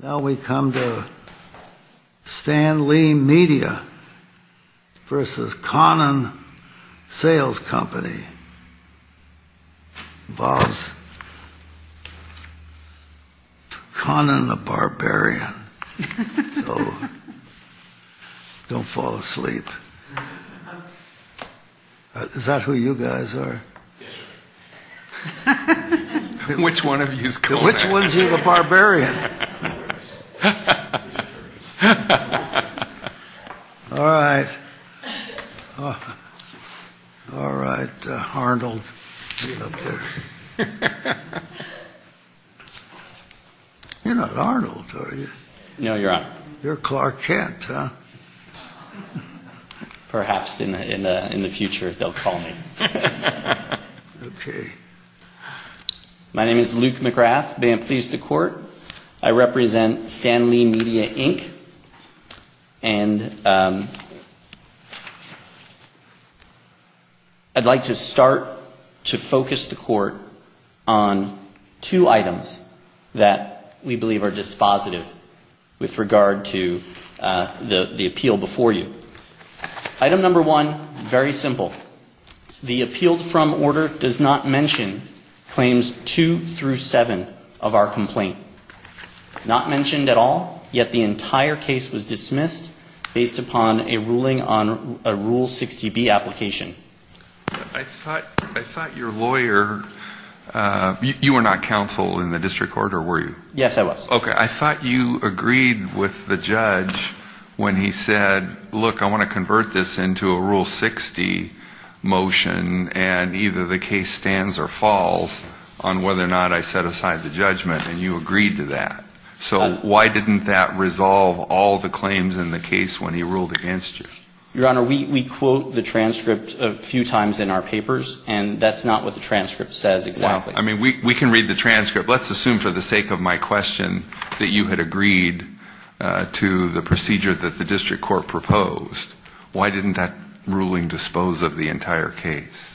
Now we come to Stan Lee Media v. Conan Sales Company. It involves Conan the Barbarian. Don't fall asleep. Is that who you guys are? Which one of you is Conan? Which one of you is the Barbarian? All right. All right, Arnold. You're not Arnold, are you? No, Your Honor. You're Clark Kent, huh? Perhaps in the future they'll call me. Okay. My name is Luke McGrath. May it please the Court, I represent Stan Lee Media, Inc. And I'd like to start to focus the Court on two items that we believe are dispositive with regard to the appeal before you. Item number one, very simple. The appealed from order does not mention claims two through seven of our complaint. Not mentioned at all, yet the entire case was dismissed based upon a ruling on a Rule 60B application. I thought your lawyer, you were not counsel in the district court, or were you? Yes, I was. Okay, I thought you agreed with the judge when he said, look, I want to convert this into a Rule 60 motion, and either the case stands or falls on whether or not I set aside the judgment, and you agreed to that. So why didn't that resolve all the claims in the case when he ruled against you? Your Honor, we quote the transcript a few times in our papers, and that's not what the transcript says exactly. I mean, we can read the transcript. Let's assume for the sake of my question that you had agreed to the procedure that the district court proposed. Why didn't that ruling dispose of the entire case?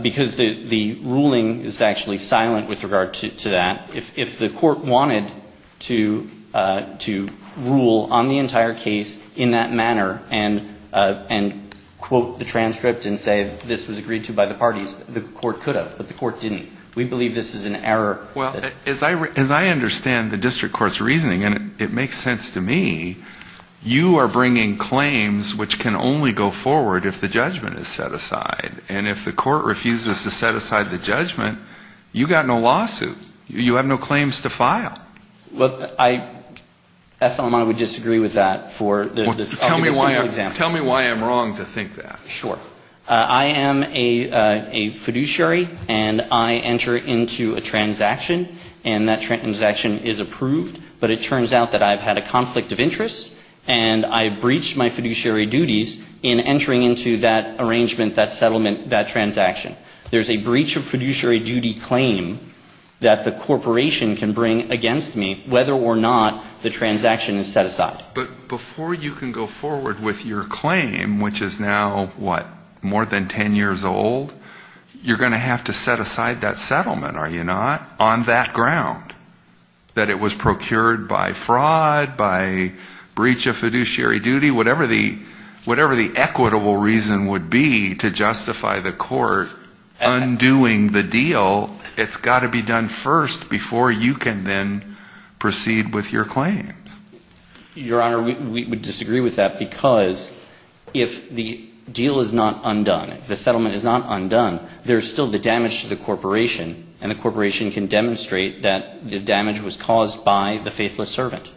Because the ruling is actually silent with regard to that. If the Court wanted to rule on the entire case in that manner and quote the transcript and say this was agreed to by the parties, the Court could have, but the Court didn't. We believe this is an error. Well, as I understand the district court's reasoning, and it makes sense to me, you are bringing claims which can only go forward if the judgment is set aside. And if the Court refuses to set aside the judgment, you've got no lawsuit. You have no claims to file. Well, I assume I would disagree with that for this argument. Tell me why I'm wrong to think that. Sure. I am a fiduciary, and I enter into a transaction, and that transaction is approved. But it turns out that I've had a conflict of interest, and I breached my fiduciary duties in entering into that arrangement, that settlement, that transaction. There's a breach of fiduciary duty claim that the corporation can bring against me whether or not the transaction is set aside. But before you can go forward with your claim, which is now, what, more than 10 years old, you're going to have to set aside that settlement, are you not, on that ground, that it was procured by fraud, by breach of fiduciary duty, whatever the equitable reason would be to justify the Court undoing the deal, it's got to be done first before you can then proceed with your claim. Your Honor, we would disagree with that because if the deal is not undone, if the settlement is not undone, there's still the damage to the corporation, and the corporation can demonstrate that the damage was caused by the faithless servant.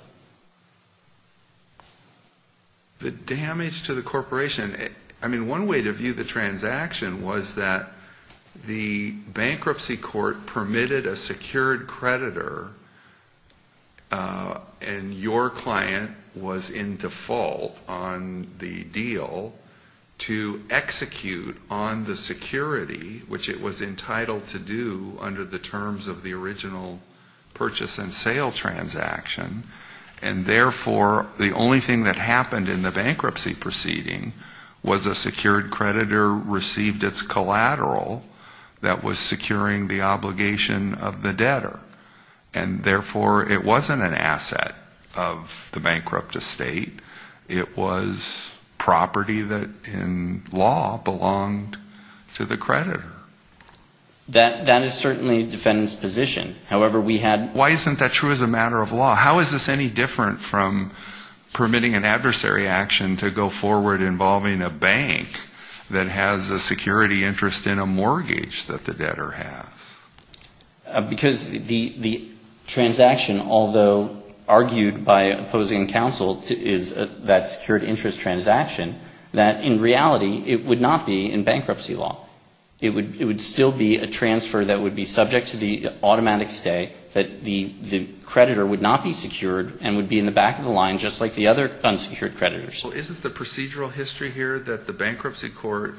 The damage to the corporation. I mean, one way to view the transaction was that the bankruptcy court permitted a secured creditor, and your client was in default on the deal, to execute on the security, which it was entitled to do under the terms of the original purchase and sale transaction, and therefore, the only thing that happened in the bankruptcy proceeding was a secured creditor received its collateral that was securing the obligation of the debtor. And therefore, it wasn't an asset of the bankrupt estate. It was property that, in law, belonged to the creditor. That is certainly the defendant's position. Why isn't that true as a matter of law? How is this any different from permitting an adversary action to go forward involving a bank that has a security interest in a mortgage that the debtor has? Because the transaction, although argued by opposing counsel, is that secured interest transaction, that in reality, it would not be in bankruptcy law. It would still be a transfer that would be subject to the automatic stay, that the creditor would not be secured and would be in the back of the line just like the other unsecured creditors. Isn't the procedural history here that the bankruptcy court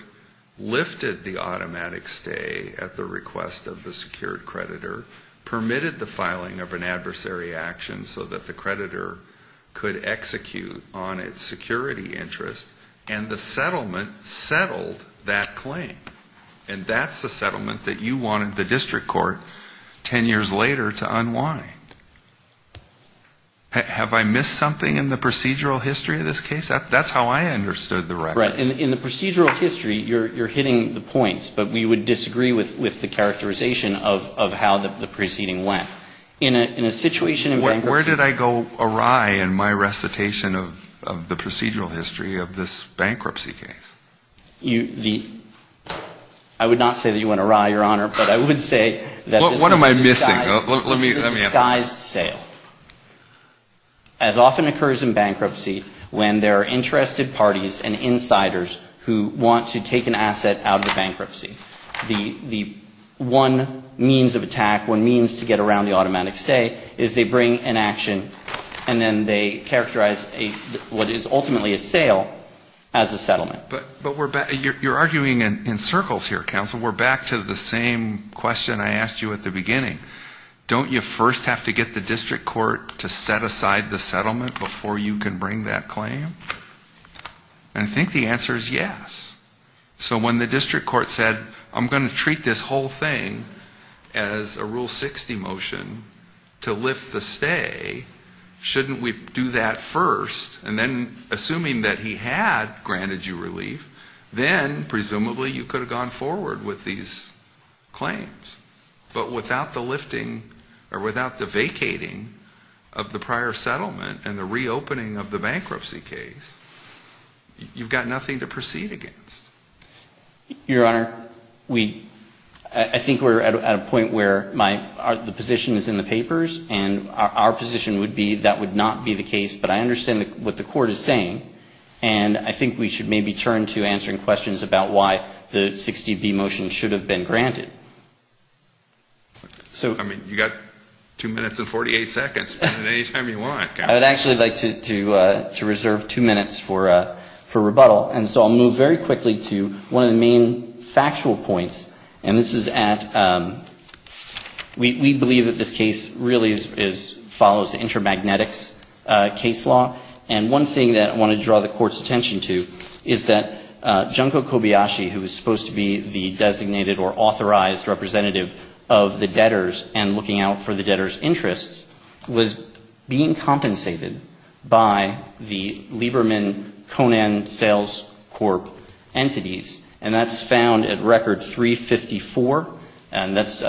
lifted the automatic stay at the request of the secured creditor, permitted the filing of an adversary action so that the creditor could execute on its security interest, and the settlement settled that claim? And that's the settlement that you wanted the district court 10 years later to unwind. Have I missed something in the procedural history of this case? That's how I understood the record. Right. In the procedural history, you're hitting the points, but we would disagree with the characterization of how the proceeding went. In a situation in bankruptcy law. of the procedural history of this bankruptcy case. I would not say that you went awry, Your Honor, but I would say that this is a disguised sale. What am I missing? This is a disguised sale, as often occurs in bankruptcy when there are interested parties and insiders who want to take an asset out of the bankruptcy. The one means of attack, one means to get around the automatic stay, is they bring an action, and then they characterize what is ultimately a sale as a settlement. But you're arguing in circles here, counsel. We're back to the same question I asked you at the beginning. Don't you first have to get the district court to set aside the settlement before you can bring that claim? And I think the answer is yes. So when the district court said, I'm going to treat this whole thing as a Rule 60 motion to lift the stay, shouldn't we do that first, and then assuming that he had granted you relief, then presumably you could have gone forward with these claims. But without the lifting or without the vacating of the prior settlement and the reopening of the bankruptcy case, you've got nothing to proceed against. Your Honor, I think we're at a point where the position is in the papers, and our position would be that would not be the case, but I understand what the court is saying, and I think we should maybe turn to answering questions about why the 60B motion should have been granted. I mean, you've got two minutes and 48 seconds. Spend it any time you want, counsel. I would actually like to reserve two minutes for rebuttal, and so I'll move very quickly to one of the main factual points, and this is at we believe that this case really follows the intermagnetics case law, and one thing that I want to draw the court's attention to is that Junko Kobayashi, who was supposed to be the designated or authorized representative of the debtors and looking out for the debtors' interests, was being compensated by the Lieberman-Conan Sales Corp. entities, and that's found at Record 354, and that's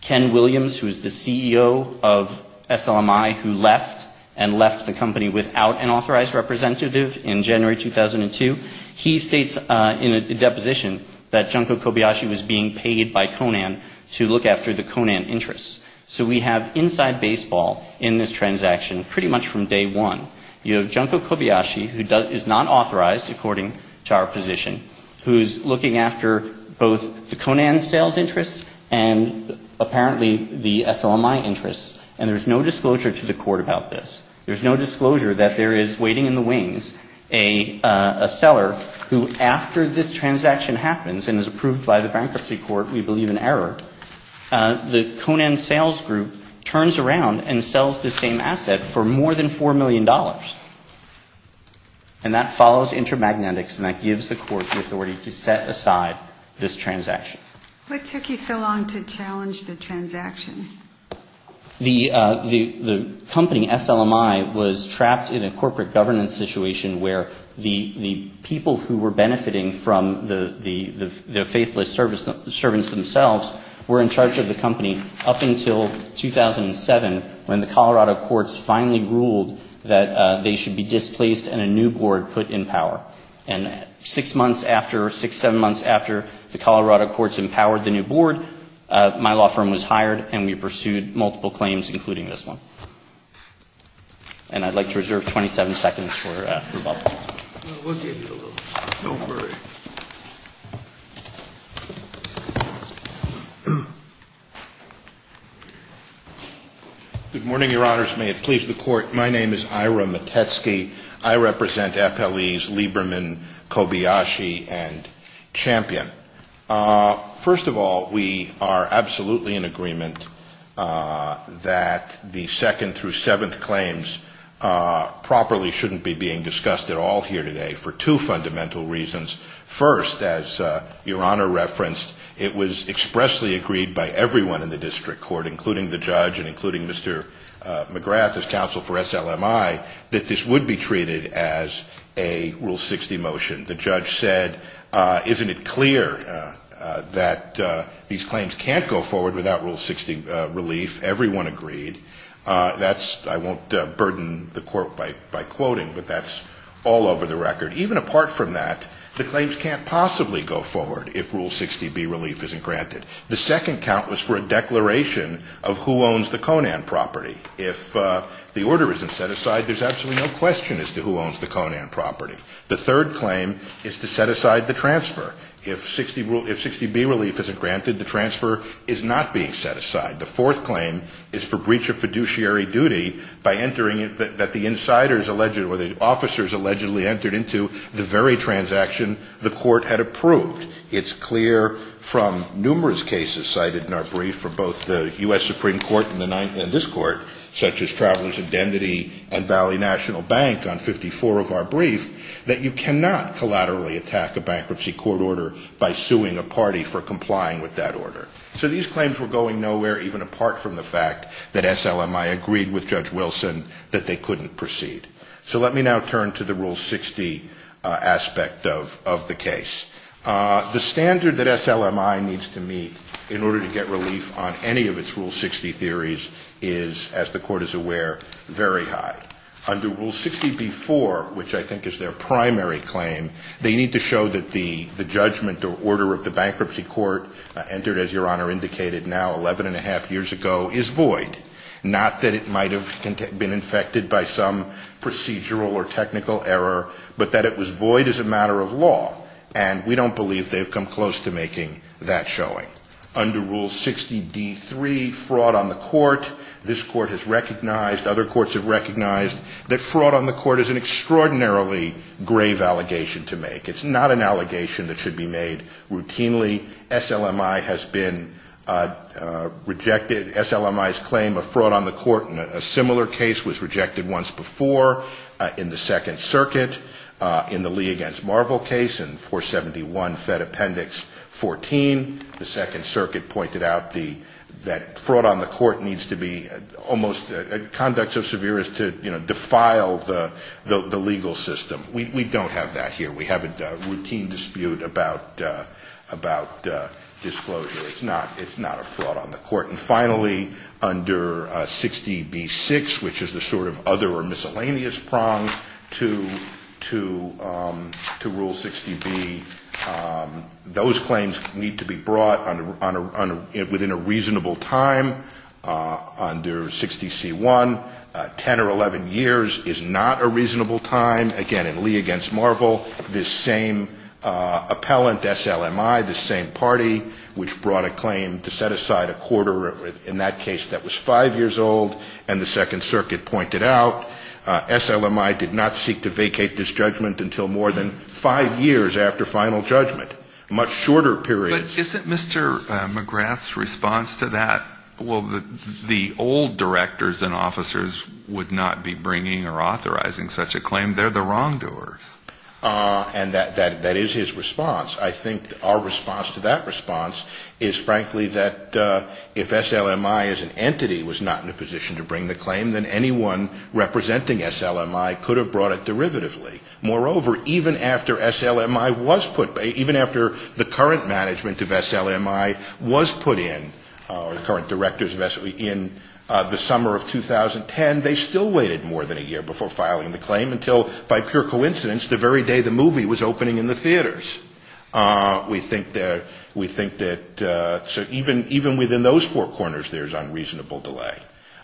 Ken Williams, who is the CEO of SLMI, who left and left the company without an authorized representative in January 2002. He states in a deposition that Junko Kobayashi was being paid by Conan to look after the Conan interests. So we have inside baseball in this transaction pretty much from day one. You have Junko Kobayashi, who is not authorized according to our position, who's looking after both the Conan sales interests and apparently the SLMI interests, and there's no disclosure to the court about this. There's no disclosure that there is waiting in the wings a seller who, after this transaction happens and is approved by the bankruptcy court, we believe in error, the Conan sales group turns around and sells the same asset for more than $4 million, and that follows intermagnetics, and that gives the court the authority to set aside this transaction. What took you so long to challenge the transaction? The company, SLMI, was trapped in a corporate governance situation where the people who were benefiting from the faithless servants themselves were in charge of the company up until 2007, when the Colorado courts finally ruled that they should be displaced and a new board put in power. And six months after, six, seven months after the Colorado courts empowered the new board, my law firm was hired, and we pursued multiple claims, including this one. And I'd like to reserve 27 seconds for rebuttal. No, we'll give you a little. Don't worry. Good morning, Your Honors. May it please the Court. My name is Ira Matetsky. I represent FLE's Lieberman, Kobayashi, and Champion. First of all, we are absolutely in agreement that the second through seventh claims properly shouldn't be being discussed at all here today for two fundamental reasons. First, as Your Honor referenced, it was expressly agreed by everyone in the district court, including the judge and including Mr. McGrath as counsel for SLMI, that this would be treated as a Rule 60 motion. The judge said, isn't it clear that these claims can't go forward without Rule 60 relief? Everyone agreed. That's, I won't burden the Court by quoting, but that's all over the record. Even apart from that, the claims can't possibly go forward if Rule 60B relief isn't granted. The second count was for a declaration of who owns the Conan property. If the order isn't set aside, there's absolutely no question as to who owns the Conan property. The third claim is to set aside the transfer. If 60B relief isn't granted, the transfer is not being set aside. The fourth claim is for breach of fiduciary duty by entering that the insiders or the officers allegedly entered into the very transaction the Court had approved. It's clear from numerous cases cited in our brief for both the U.S. Supreme Court and this Court, such as Traveler's Identity and Valley National Bank on 54 of our brief, that you cannot collaterally attack a bankruptcy court order by suing a party for complying with that order. So these claims were going nowhere even apart from the fact that SLMI agreed with Judge Wilson that they couldn't proceed. So let me now turn to the Rule 60 aspect of the case. The standard that SLMI needs to meet in order to get relief on any of its Rule 60 theories is, as the Court is aware, very high. Under Rule 60b-4, which I think is their primary claim, they need to show that the judgment or order of the bankruptcy court entered, as Your Honor indicated, now 11 1⁄2 years ago is void. Not that it might have been infected by some procedural or technical error, but that it was void as a matter of law. And we don't believe they've come close to making that showing. Under Rule 60d-3, fraud on the court, this Court has recognized, other courts have recognized, that fraud on the court is an extraordinarily grave allegation to make. It's not an allegation that should be made routinely. SLMI has been rejected. SLMI's claim of fraud on the court in a similar case was rejected once before in the Second Circuit, in the Lee v. Marvel case in 471 Fed Appendix 14. The Second Circuit pointed out that fraud on the court needs to be almost, conduct so severe as to defile the legal system. We don't have that here. We have a routine dispute about disclosure. It's not a fraud on the court. And finally, under 60b-6, which is the sort of other or miscellaneous prong to Rule 60b, those claims need to be brought within a reasonable time. Under 60c-1, 10 or 11 years is not a reasonable time. Again, in Lee v. Marvel, this same appellant, SLMI, this same party, which brought a claim to set aside a quarter in that case that was five years old, and the Second Circuit pointed out SLMI did not seek to vacate this judgment until more than five years after final judgment, much shorter periods. But isn't Mr. McGrath's response to that, well, the old directors and officers would not be bringing or authorizing such a claim? They're the wrongdoers. And that is his response. I think our response to that response is, frankly, that if SLMI as an entity was not in a position to bring the claim, then anyone representing SLMI could have brought it derivatively. Moreover, even after SLMI was put, even after the current management of SLMI was put in, or the current directors in the summer of 2010, they still waited more than a year before filing the claim until, by pure coincidence, the very day the movie was opening in the theaters. We think that even within those four corners, there's unreasonable delay.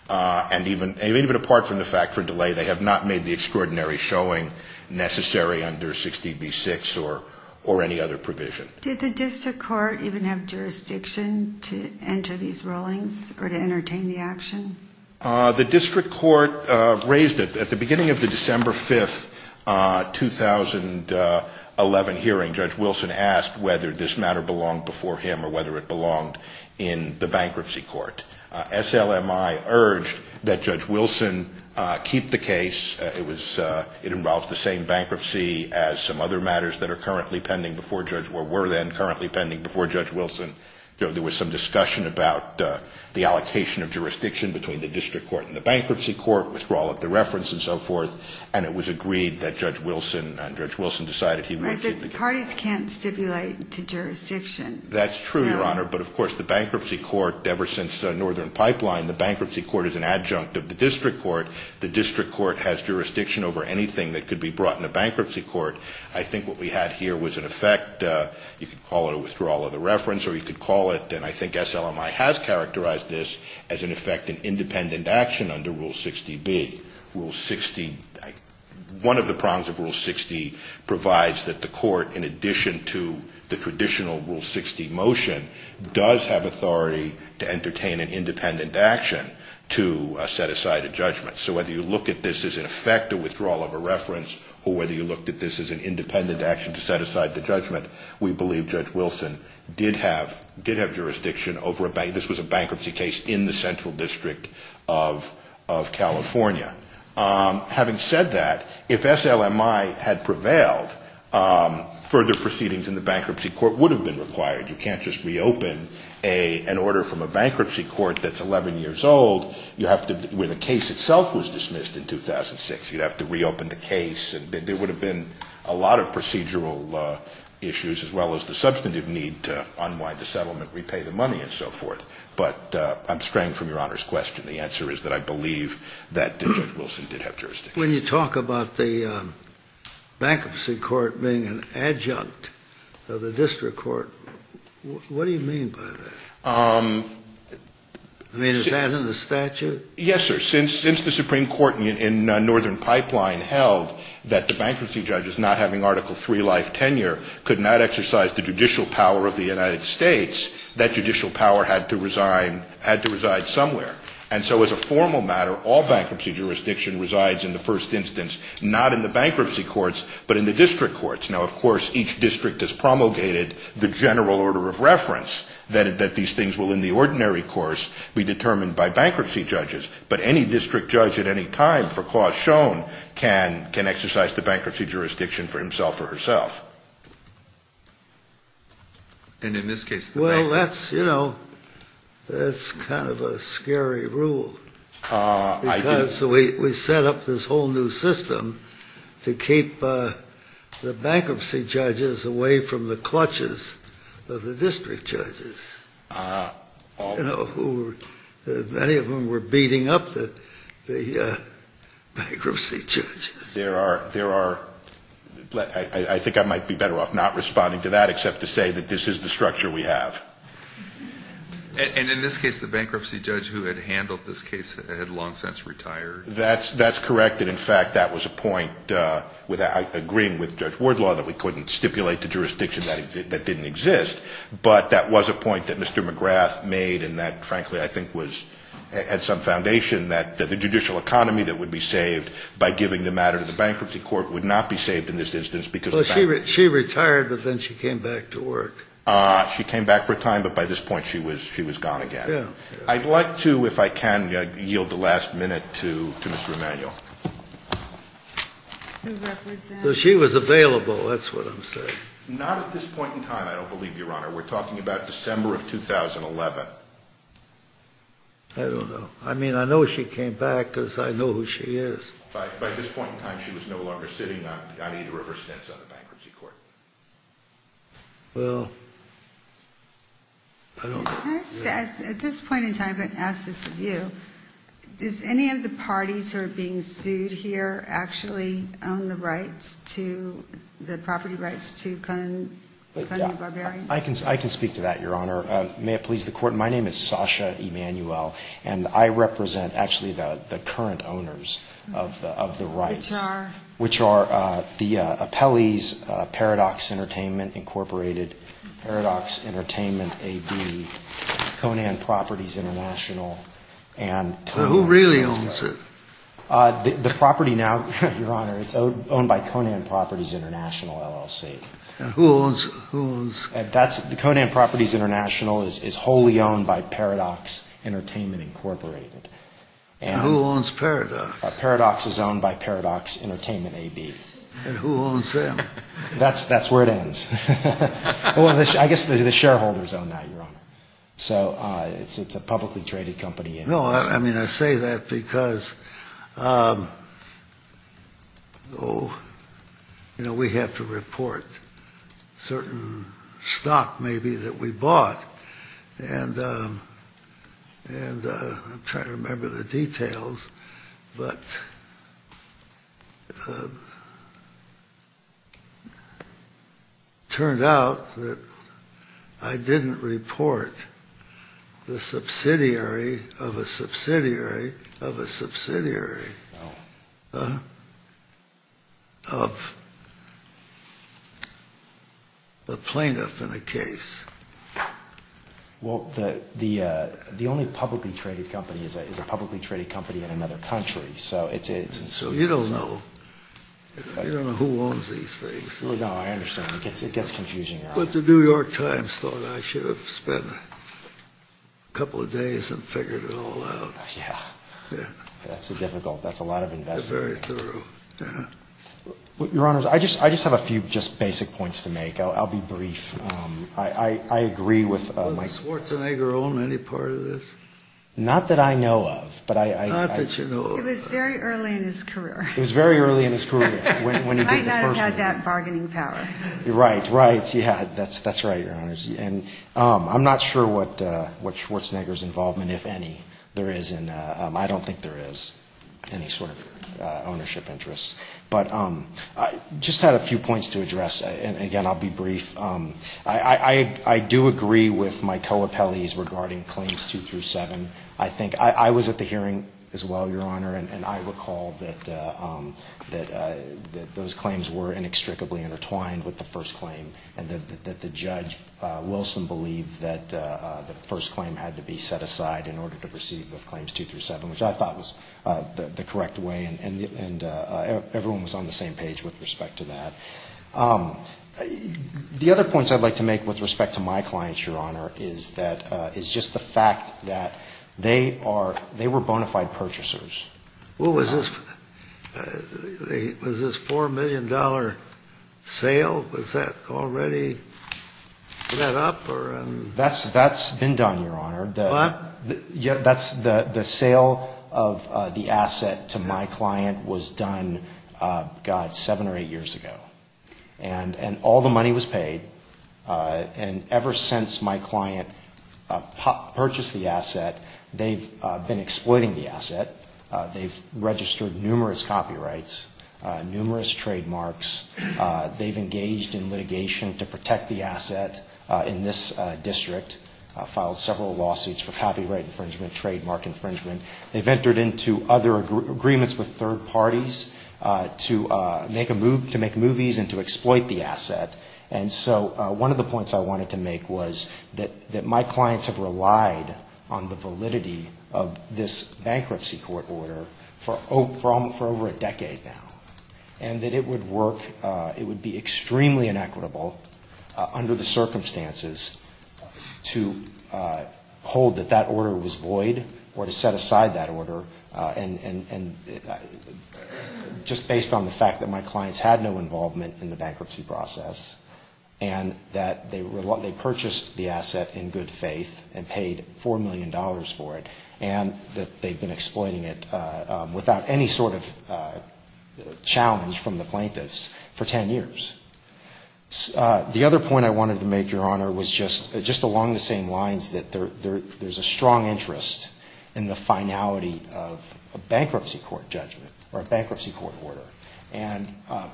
And even apart from the fact for delay, they have not made the extraordinary showing necessary under 60B-6 or any other provision. Did the district court even have jurisdiction to enter these rulings or to entertain the action? The district court raised it. At the beginning of the December 5, 2011 hearing, Judge Wilson asked whether this matter belonged before him or whether it belonged in the bankruptcy court. SLMI urged that Judge Wilson keep the case. It involves the same bankruptcy as some other matters that are currently pending before Judge or were then currently pending before Judge Wilson. There was some discussion about the allocation of jurisdiction between the district court and the bankruptcy court, withdrawal of the reference and so forth, and it was agreed that Judge Wilson decided he would keep the case. Right, but parties can't stipulate to jurisdiction. That's true, Your Honor, but of course, the bankruptcy court, ever since Northern Pipeline, the bankruptcy court is an adjunct of the district court. The district court has jurisdiction over anything that could be brought into bankruptcy court. I think what we had here was in effect, you could call it a withdrawal of the reference or you could call it, and I think SLMI has characterized this as in effect an independent action under Rule 60B. Rule 60, one of the prongs of Rule 60 provides that the court, in addition to the traditional Rule 60 motion, does have authority to entertain an independent action to set aside a judgment. So whether you look at this as in effect a withdrawal of a reference or whether you looked at this as an independent action to set aside the judgment, we believe Judge Wilson did have jurisdiction over a bank. This was a bankruptcy case in the Central District of California. Having said that, if SLMI had prevailed, further proceedings in the bankruptcy court would have been required. You can't just reopen an order from a bankruptcy court that's 11 years old where the case itself was dismissed in 2006. You'd have to reopen the case. There would have been a lot of procedural issues as well as the substantive need to unwind the settlement, repay the money and so forth. But I'm straying from Your Honor's question. The answer is that I believe that Judge Wilson did have jurisdiction. When you talk about the bankruptcy court being an adjunct of the district court, what do you mean by that? I mean, is that in the statute? Yes, sir. Since the Supreme Court in Northern Pipeline held that the bankruptcy judges not having Article III life tenure could not exercise the judicial power of the United States, that judicial power had to reside somewhere. And so as a formal matter, all bankruptcy jurisdiction resides in the first instance, not in the bankruptcy courts but in the district courts. Now, of course, each district is promulgated the general order of reference that these things will in the ordinary course be determined by bankruptcy judges. But any district judge at any time for cause shown can exercise the bankruptcy jurisdiction for himself or herself. And in this case? Well, that's kind of a scary rule. Because we set up this whole new system to keep the bankruptcy judges away from the clutches of the district judges, you know, who many of them were beating up the bankruptcy judges. There are. I think I might be better off not responding to that except to say that this is the structure we have. And in this case, the bankruptcy judge who had handled this case had long since retired. That's correct. And in fact, that was a point with agreeing with Judge Wardlaw that we couldn't stipulate the jurisdiction that didn't exist. But that was a point that Mr. McGrath made. And that, frankly, I think was at some foundation that the judicial economy that would be saved by giving the matter to the bankruptcy court would not be saved in this instance because she retired. But then she came back to work. She came back for a time. But by this point, she was she was gone again. I'd like to if I can yield the last minute to Mr. Emanuel. She was available. That's what I'm saying. Not at this point in time, I don't believe, Your Honor. We're talking about December of 2011. I don't know. I mean, I know she came back because I know who she is. By this point in time, she was no longer sitting on either of her stints on the bankruptcy court. Well, I don't know. At this point in time, I'm going to ask this of you. Does any of the parties who are being sued here actually own the rights to the property rights to Conan Barbarian? I can speak to that, Your Honor. May it please the Court? My name is Sasha Emanuel, and I represent actually the current owners of the rights. Which are? Which are the Appellees, Paradox Entertainment, Incorporated, Paradox Entertainment, AB, Conan Properties International, and Conan LLC. Who really owns it? The property now, Your Honor, it's owned by Conan Properties International, LLC. And who owns? Conan Properties International is wholly owned by Paradox Entertainment, Incorporated. And who owns Paradox? Paradox is owned by Paradox Entertainment, AB. And who owns them? That's where it ends. So it's a publicly traded company. No, I mean, I say that because, oh, you know, we have to report certain stock maybe that we bought. And I'm trying to remember the details. But it turned out that I didn't report the subsidiary of a subsidiary of a subsidiary of a plaintiff in a case. Well, the only publicly traded company is a publicly traded company in another country. So you don't know. You don't know who owns these things. No, I understand. It gets confusing. But the New York Times thought I should have spent a couple of days and figured it all out. Yeah, that's a difficult, that's a lot of investment. Your Honor, I just have a few just basic points to make. I'll be brief. I agree with Mike. Not that I know of. It was very early in his career. He might not have had that bargaining power. Right, right. Yeah, that's right, Your Honor. And I'm not sure what Schwarzenegger's involvement, if any, there is in, I don't think there is any sort of ownership interest. But I just had a few points to address. And again, I'll be brief. I do agree with my co-appellees regarding Claims 2 through 7. I think, I was at the hearing as well, Your Honor. And I recall that those claims were inextricably intertwined with the first claim. And that the judge, Wilson, believed that the first claim had to be set aside in order to proceed with Claims 2 through 7, which I thought was the correct way. And everyone was on the same page with respect to that. The other points I'd like to make with respect to my clients, Your Honor, is just the fact that they were bona fide purchasers. Was this $4 million sale, was that already set up? That's been done, Your Honor. The sale of the asset to my client was done, God, seven or eight years ago. And all the money was paid. And ever since my client purchased the asset, they've been exploiting the asset. They've registered numerous copyrights, numerous trademarks. They've engaged in litigation to protect the asset in this district, filed several lawsuits for copyright infringement, trademark infringement. They've entered into other agreements with third parties to make movies and to exploit the asset. And so one of the points I wanted to make was that my clients have relied on the validity of this bankruptcy court order for over a decade now. And that it would work, it would be extremely inequitable under the circumstances to hold that that order was void or to set aside that order. And just based on the fact that my clients had no involvement in the bankruptcy process and that they purchased the asset in good faith and paid $4 million for it, and that they've been exploiting it without any sort of challenge from the plaintiffs for 10 years. The other point I wanted to make, Your Honor, was just along the same lines, that there's a strong interest in the finality of a bankruptcy court judgment or a bankruptcy court order. And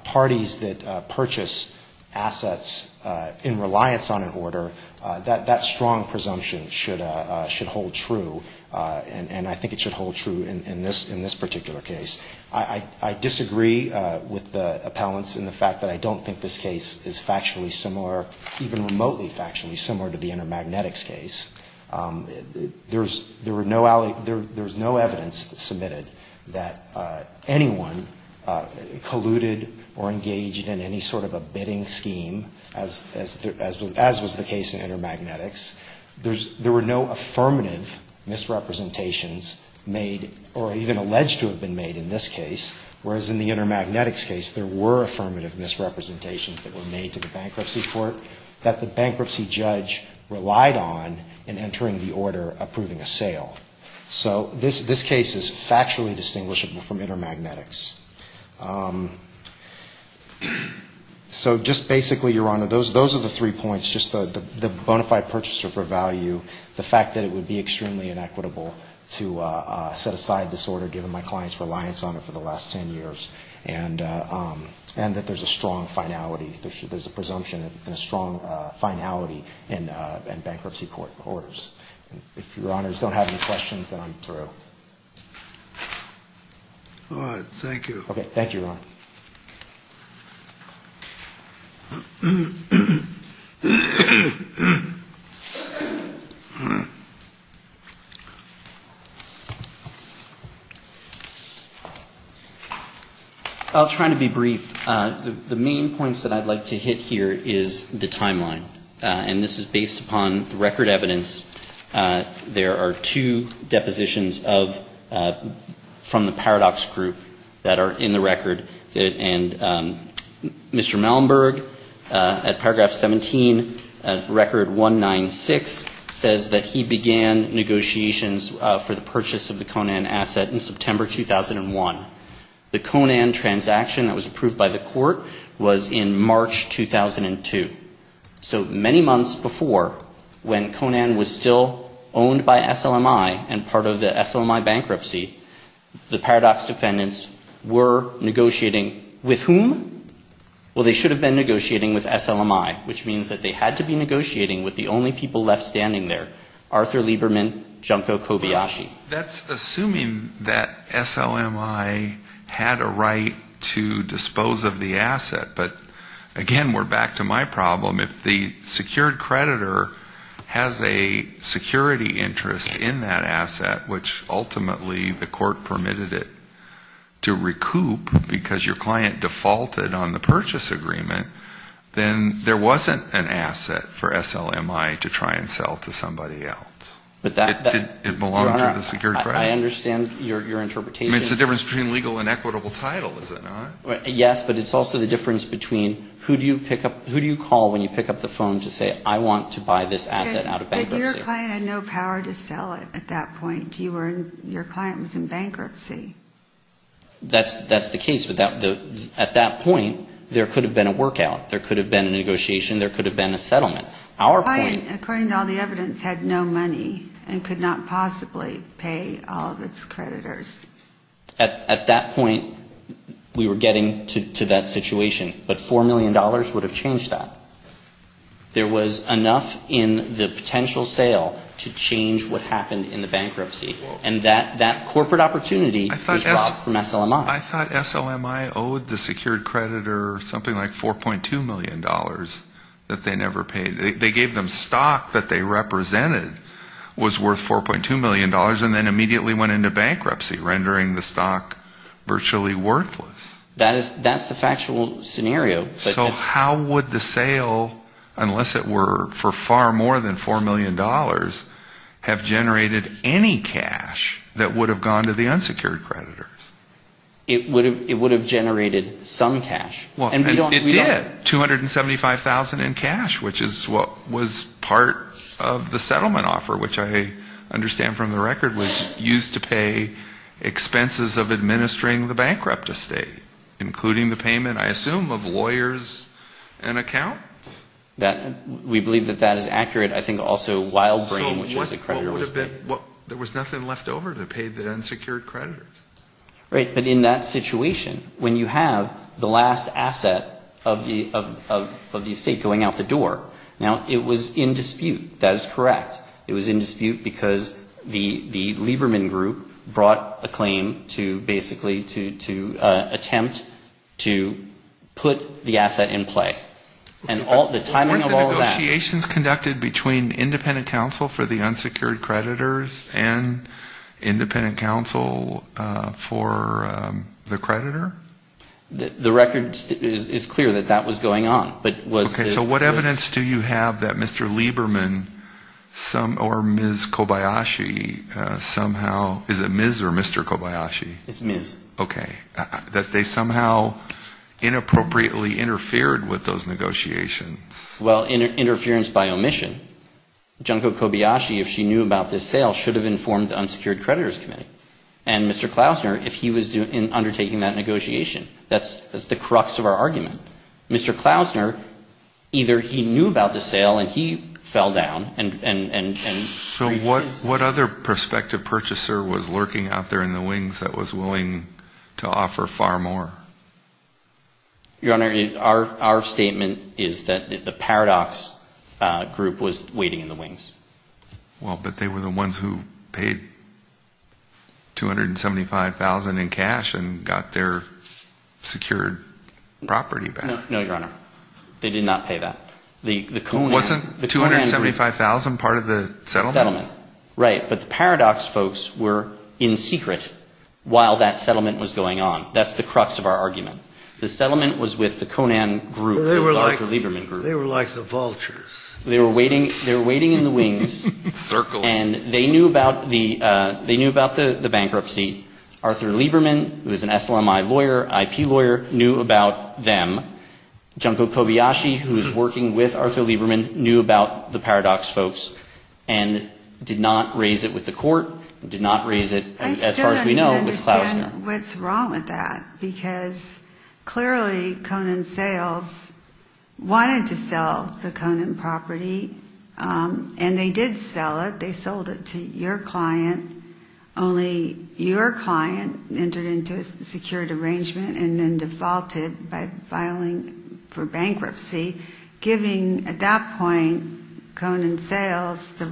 parties that purchase assets in reliance on an order, that strong presumption should hold true, and I think it should hold true in this particular case. I disagree with the appellants in the fact that I don't think this case is factually similar, even remotely factually similar to the Intermagnetics case. There's no evidence submitted that anyone colluded or engaged in any sort of a bidding scheme, as was the case in Intermagnetics. There were no affirmative misrepresentations made or even alleged to have been made in this case, whereas in the Intermagnetics case there were affirmative misrepresentations that were made to the bankruptcy court that the bankruptcy judge relied on in entering the order approving a sale. So this case is factually distinguishable from Intermagnetics. So just basically, Your Honor, those are the three points, just the bonafide purchaser for value, the fact that it would be extremely inequitable to set aside this order given my client's reliance on it for the last 10 years, and that there's a strong finality, there's a presumption and a strong finality in bankruptcy court orders. If Your Honors don't have any questions, then I'm through. All right. Thank you. I'll try to be brief. The main points that I'd like to hit here is the timeline. And this is based upon the record evidence. There are two depositions from the Paradox Group that are in the record. And Mr. Malenberg, at paragraph 17, record 196, says that he began negotiations for the purchase of the Conan asset in September 2001. The Conan transaction that was approved by the court was in March 2002. So many months before, when Conan was still owned by SLMI and part of the SLMI bankruptcy, the Paradox defendants were negotiating with whom? Well, they should have been negotiating with SLMI, which means that they had to be negotiating with the only people left standing there, Arthur Lieberman, Junko Kobayashi. That's assuming that SLMI had a right to dispose of the asset. But again, we're back to my problem. If the secured creditor has a security interest in that asset, which ultimately the court permitted it to recoup because your client defaulted on the purchase agreement, then there wasn't an asset for SLMI to try and sell to somebody else. It belonged to the secured creditor. I understand your interpretation. I mean, it's the difference between legal and equitable title, is it not? Yes, but it's also the difference between who do you call when you pick up the phone to say, I want to buy this asset out of bankruptcy? But your client had no power to sell it at that point. Your client was in bankruptcy. That's the case, but at that point, there could have been a workout. There could have been a negotiation. There could have been a settlement. According to all the evidence, the client had no money and could not possibly pay all of its creditors. At that point, we were getting to that situation, but $4 million would have changed that. There was enough in the potential sale to change what happened in the bankruptcy. And that corporate opportunity was robbed from SLMI. I thought SLMI owed the secured creditor something like $4.2 million that they never paid. They gave them stock that they represented was worth $4.2 million and then immediately went into bankruptcy, rendering the stock virtually worthless. That's the factual scenario. So how would the sale, unless it were for far more than $4 million, have generated any cash that would have gone to the unsecured creditors? It would have generated some cash. It did, $275,000 in cash, which is what was part of the settlement offer, which I understand from the record was used to pay expenses of administering the bankrupt estate. Including the payment, I assume, of lawyers and accounts? We believe that that is accurate. I think also Wild Brain, which is the creditor, was paid. There was nothing left over to pay the unsecured creditors. Right, but in that situation, when you have the last asset of the estate going out the door, now, it was in dispute. That is correct. It was in dispute because the Lieberman Group brought a claim to basically to attempt to put the asset in play. And the timing of all that. Weren't the negotiations conducted between independent counsel for the unsecured creditors and independent counsel for the creditor? The record is clear that that was going on. Okay, so what evidence do you have that Mr. Lieberman or Ms. Kobayashi somehow, is it Ms. or Mr. Kobayashi? It's Ms. Okay, that they somehow inappropriately interfered with those negotiations? Well, interference by omission. Junko Kobayashi, if she knew about this sale, should have informed the unsecured creditors committee. And Mr. Klausner, if he was undertaking that negotiation. That's the crux of our argument. Mr. Klausner, either he knew about the sale and he fell down and So what other prospective purchaser was lurking out there in the wings that was willing to offer far more? Your Honor, our statement is that the Paradox Group was waiting in the wings. Well, but they were the ones who paid $275,000 in cash and got their secured property back. No, Your Honor, they did not pay that. Wasn't $275,000 part of the settlement? Right, but the Paradox folks were in secret while that settlement was going on. That's the crux of our argument. The settlement was with the Conan group, the Arthur Lieberman group. They were like the vultures. They were waiting in the wings and they knew about the bankruptcy. Arthur Lieberman, who is an SLMI lawyer, IP lawyer, knew about them. Junko Kobayashi, who is working with Arthur Lieberman, knew about the Paradox folks and did not raise it with the court, did not raise it, as far as we know, with Klausner. Clearly, Conan Sales wanted to sell the Conan property, and they did sell it. They sold it to your client. Only your client entered into a secured arrangement and then defaulted by filing for bankruptcy, giving, at that point, Conan Sales the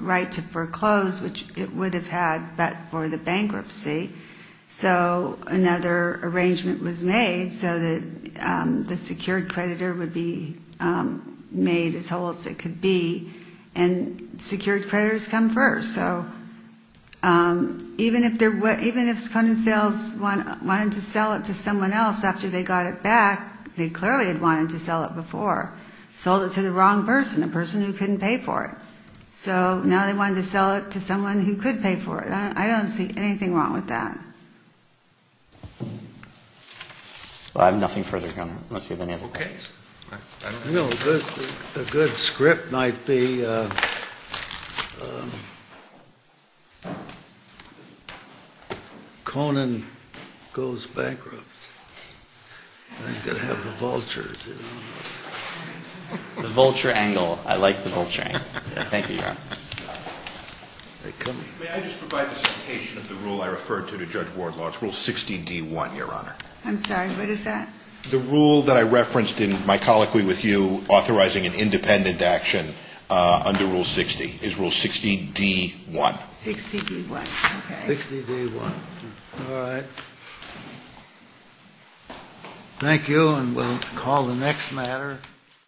right to foreclose, which it would have had, but for the bankruptcy. So another arrangement was made so that the secured creditor would be made as whole as it could be. And secured creditors come first. Even if Conan Sales wanted to sell it to someone else after they got it back, they clearly had wanted to sell it before. Sold it to the wrong person, a person who couldn't pay for it. So now they wanted to sell it to someone who could pay for it. I don't see anything wrong with that. I have nothing further to add. A good script might be, Conan goes bankrupt. I've got to have the vultures. The vulture angle. I like the vulture angle. Thank you, Your Honor. May I just provide the citation of the rule I referred to to Judge Wardlaw? It's Rule 60D1, Your Honor. I'm sorry. What is that? The rule that I referenced in my colloquy with you authorizing an independent action under Rule 60 is Rule 60D1. 60D1. Thank you, and we'll call the next matter.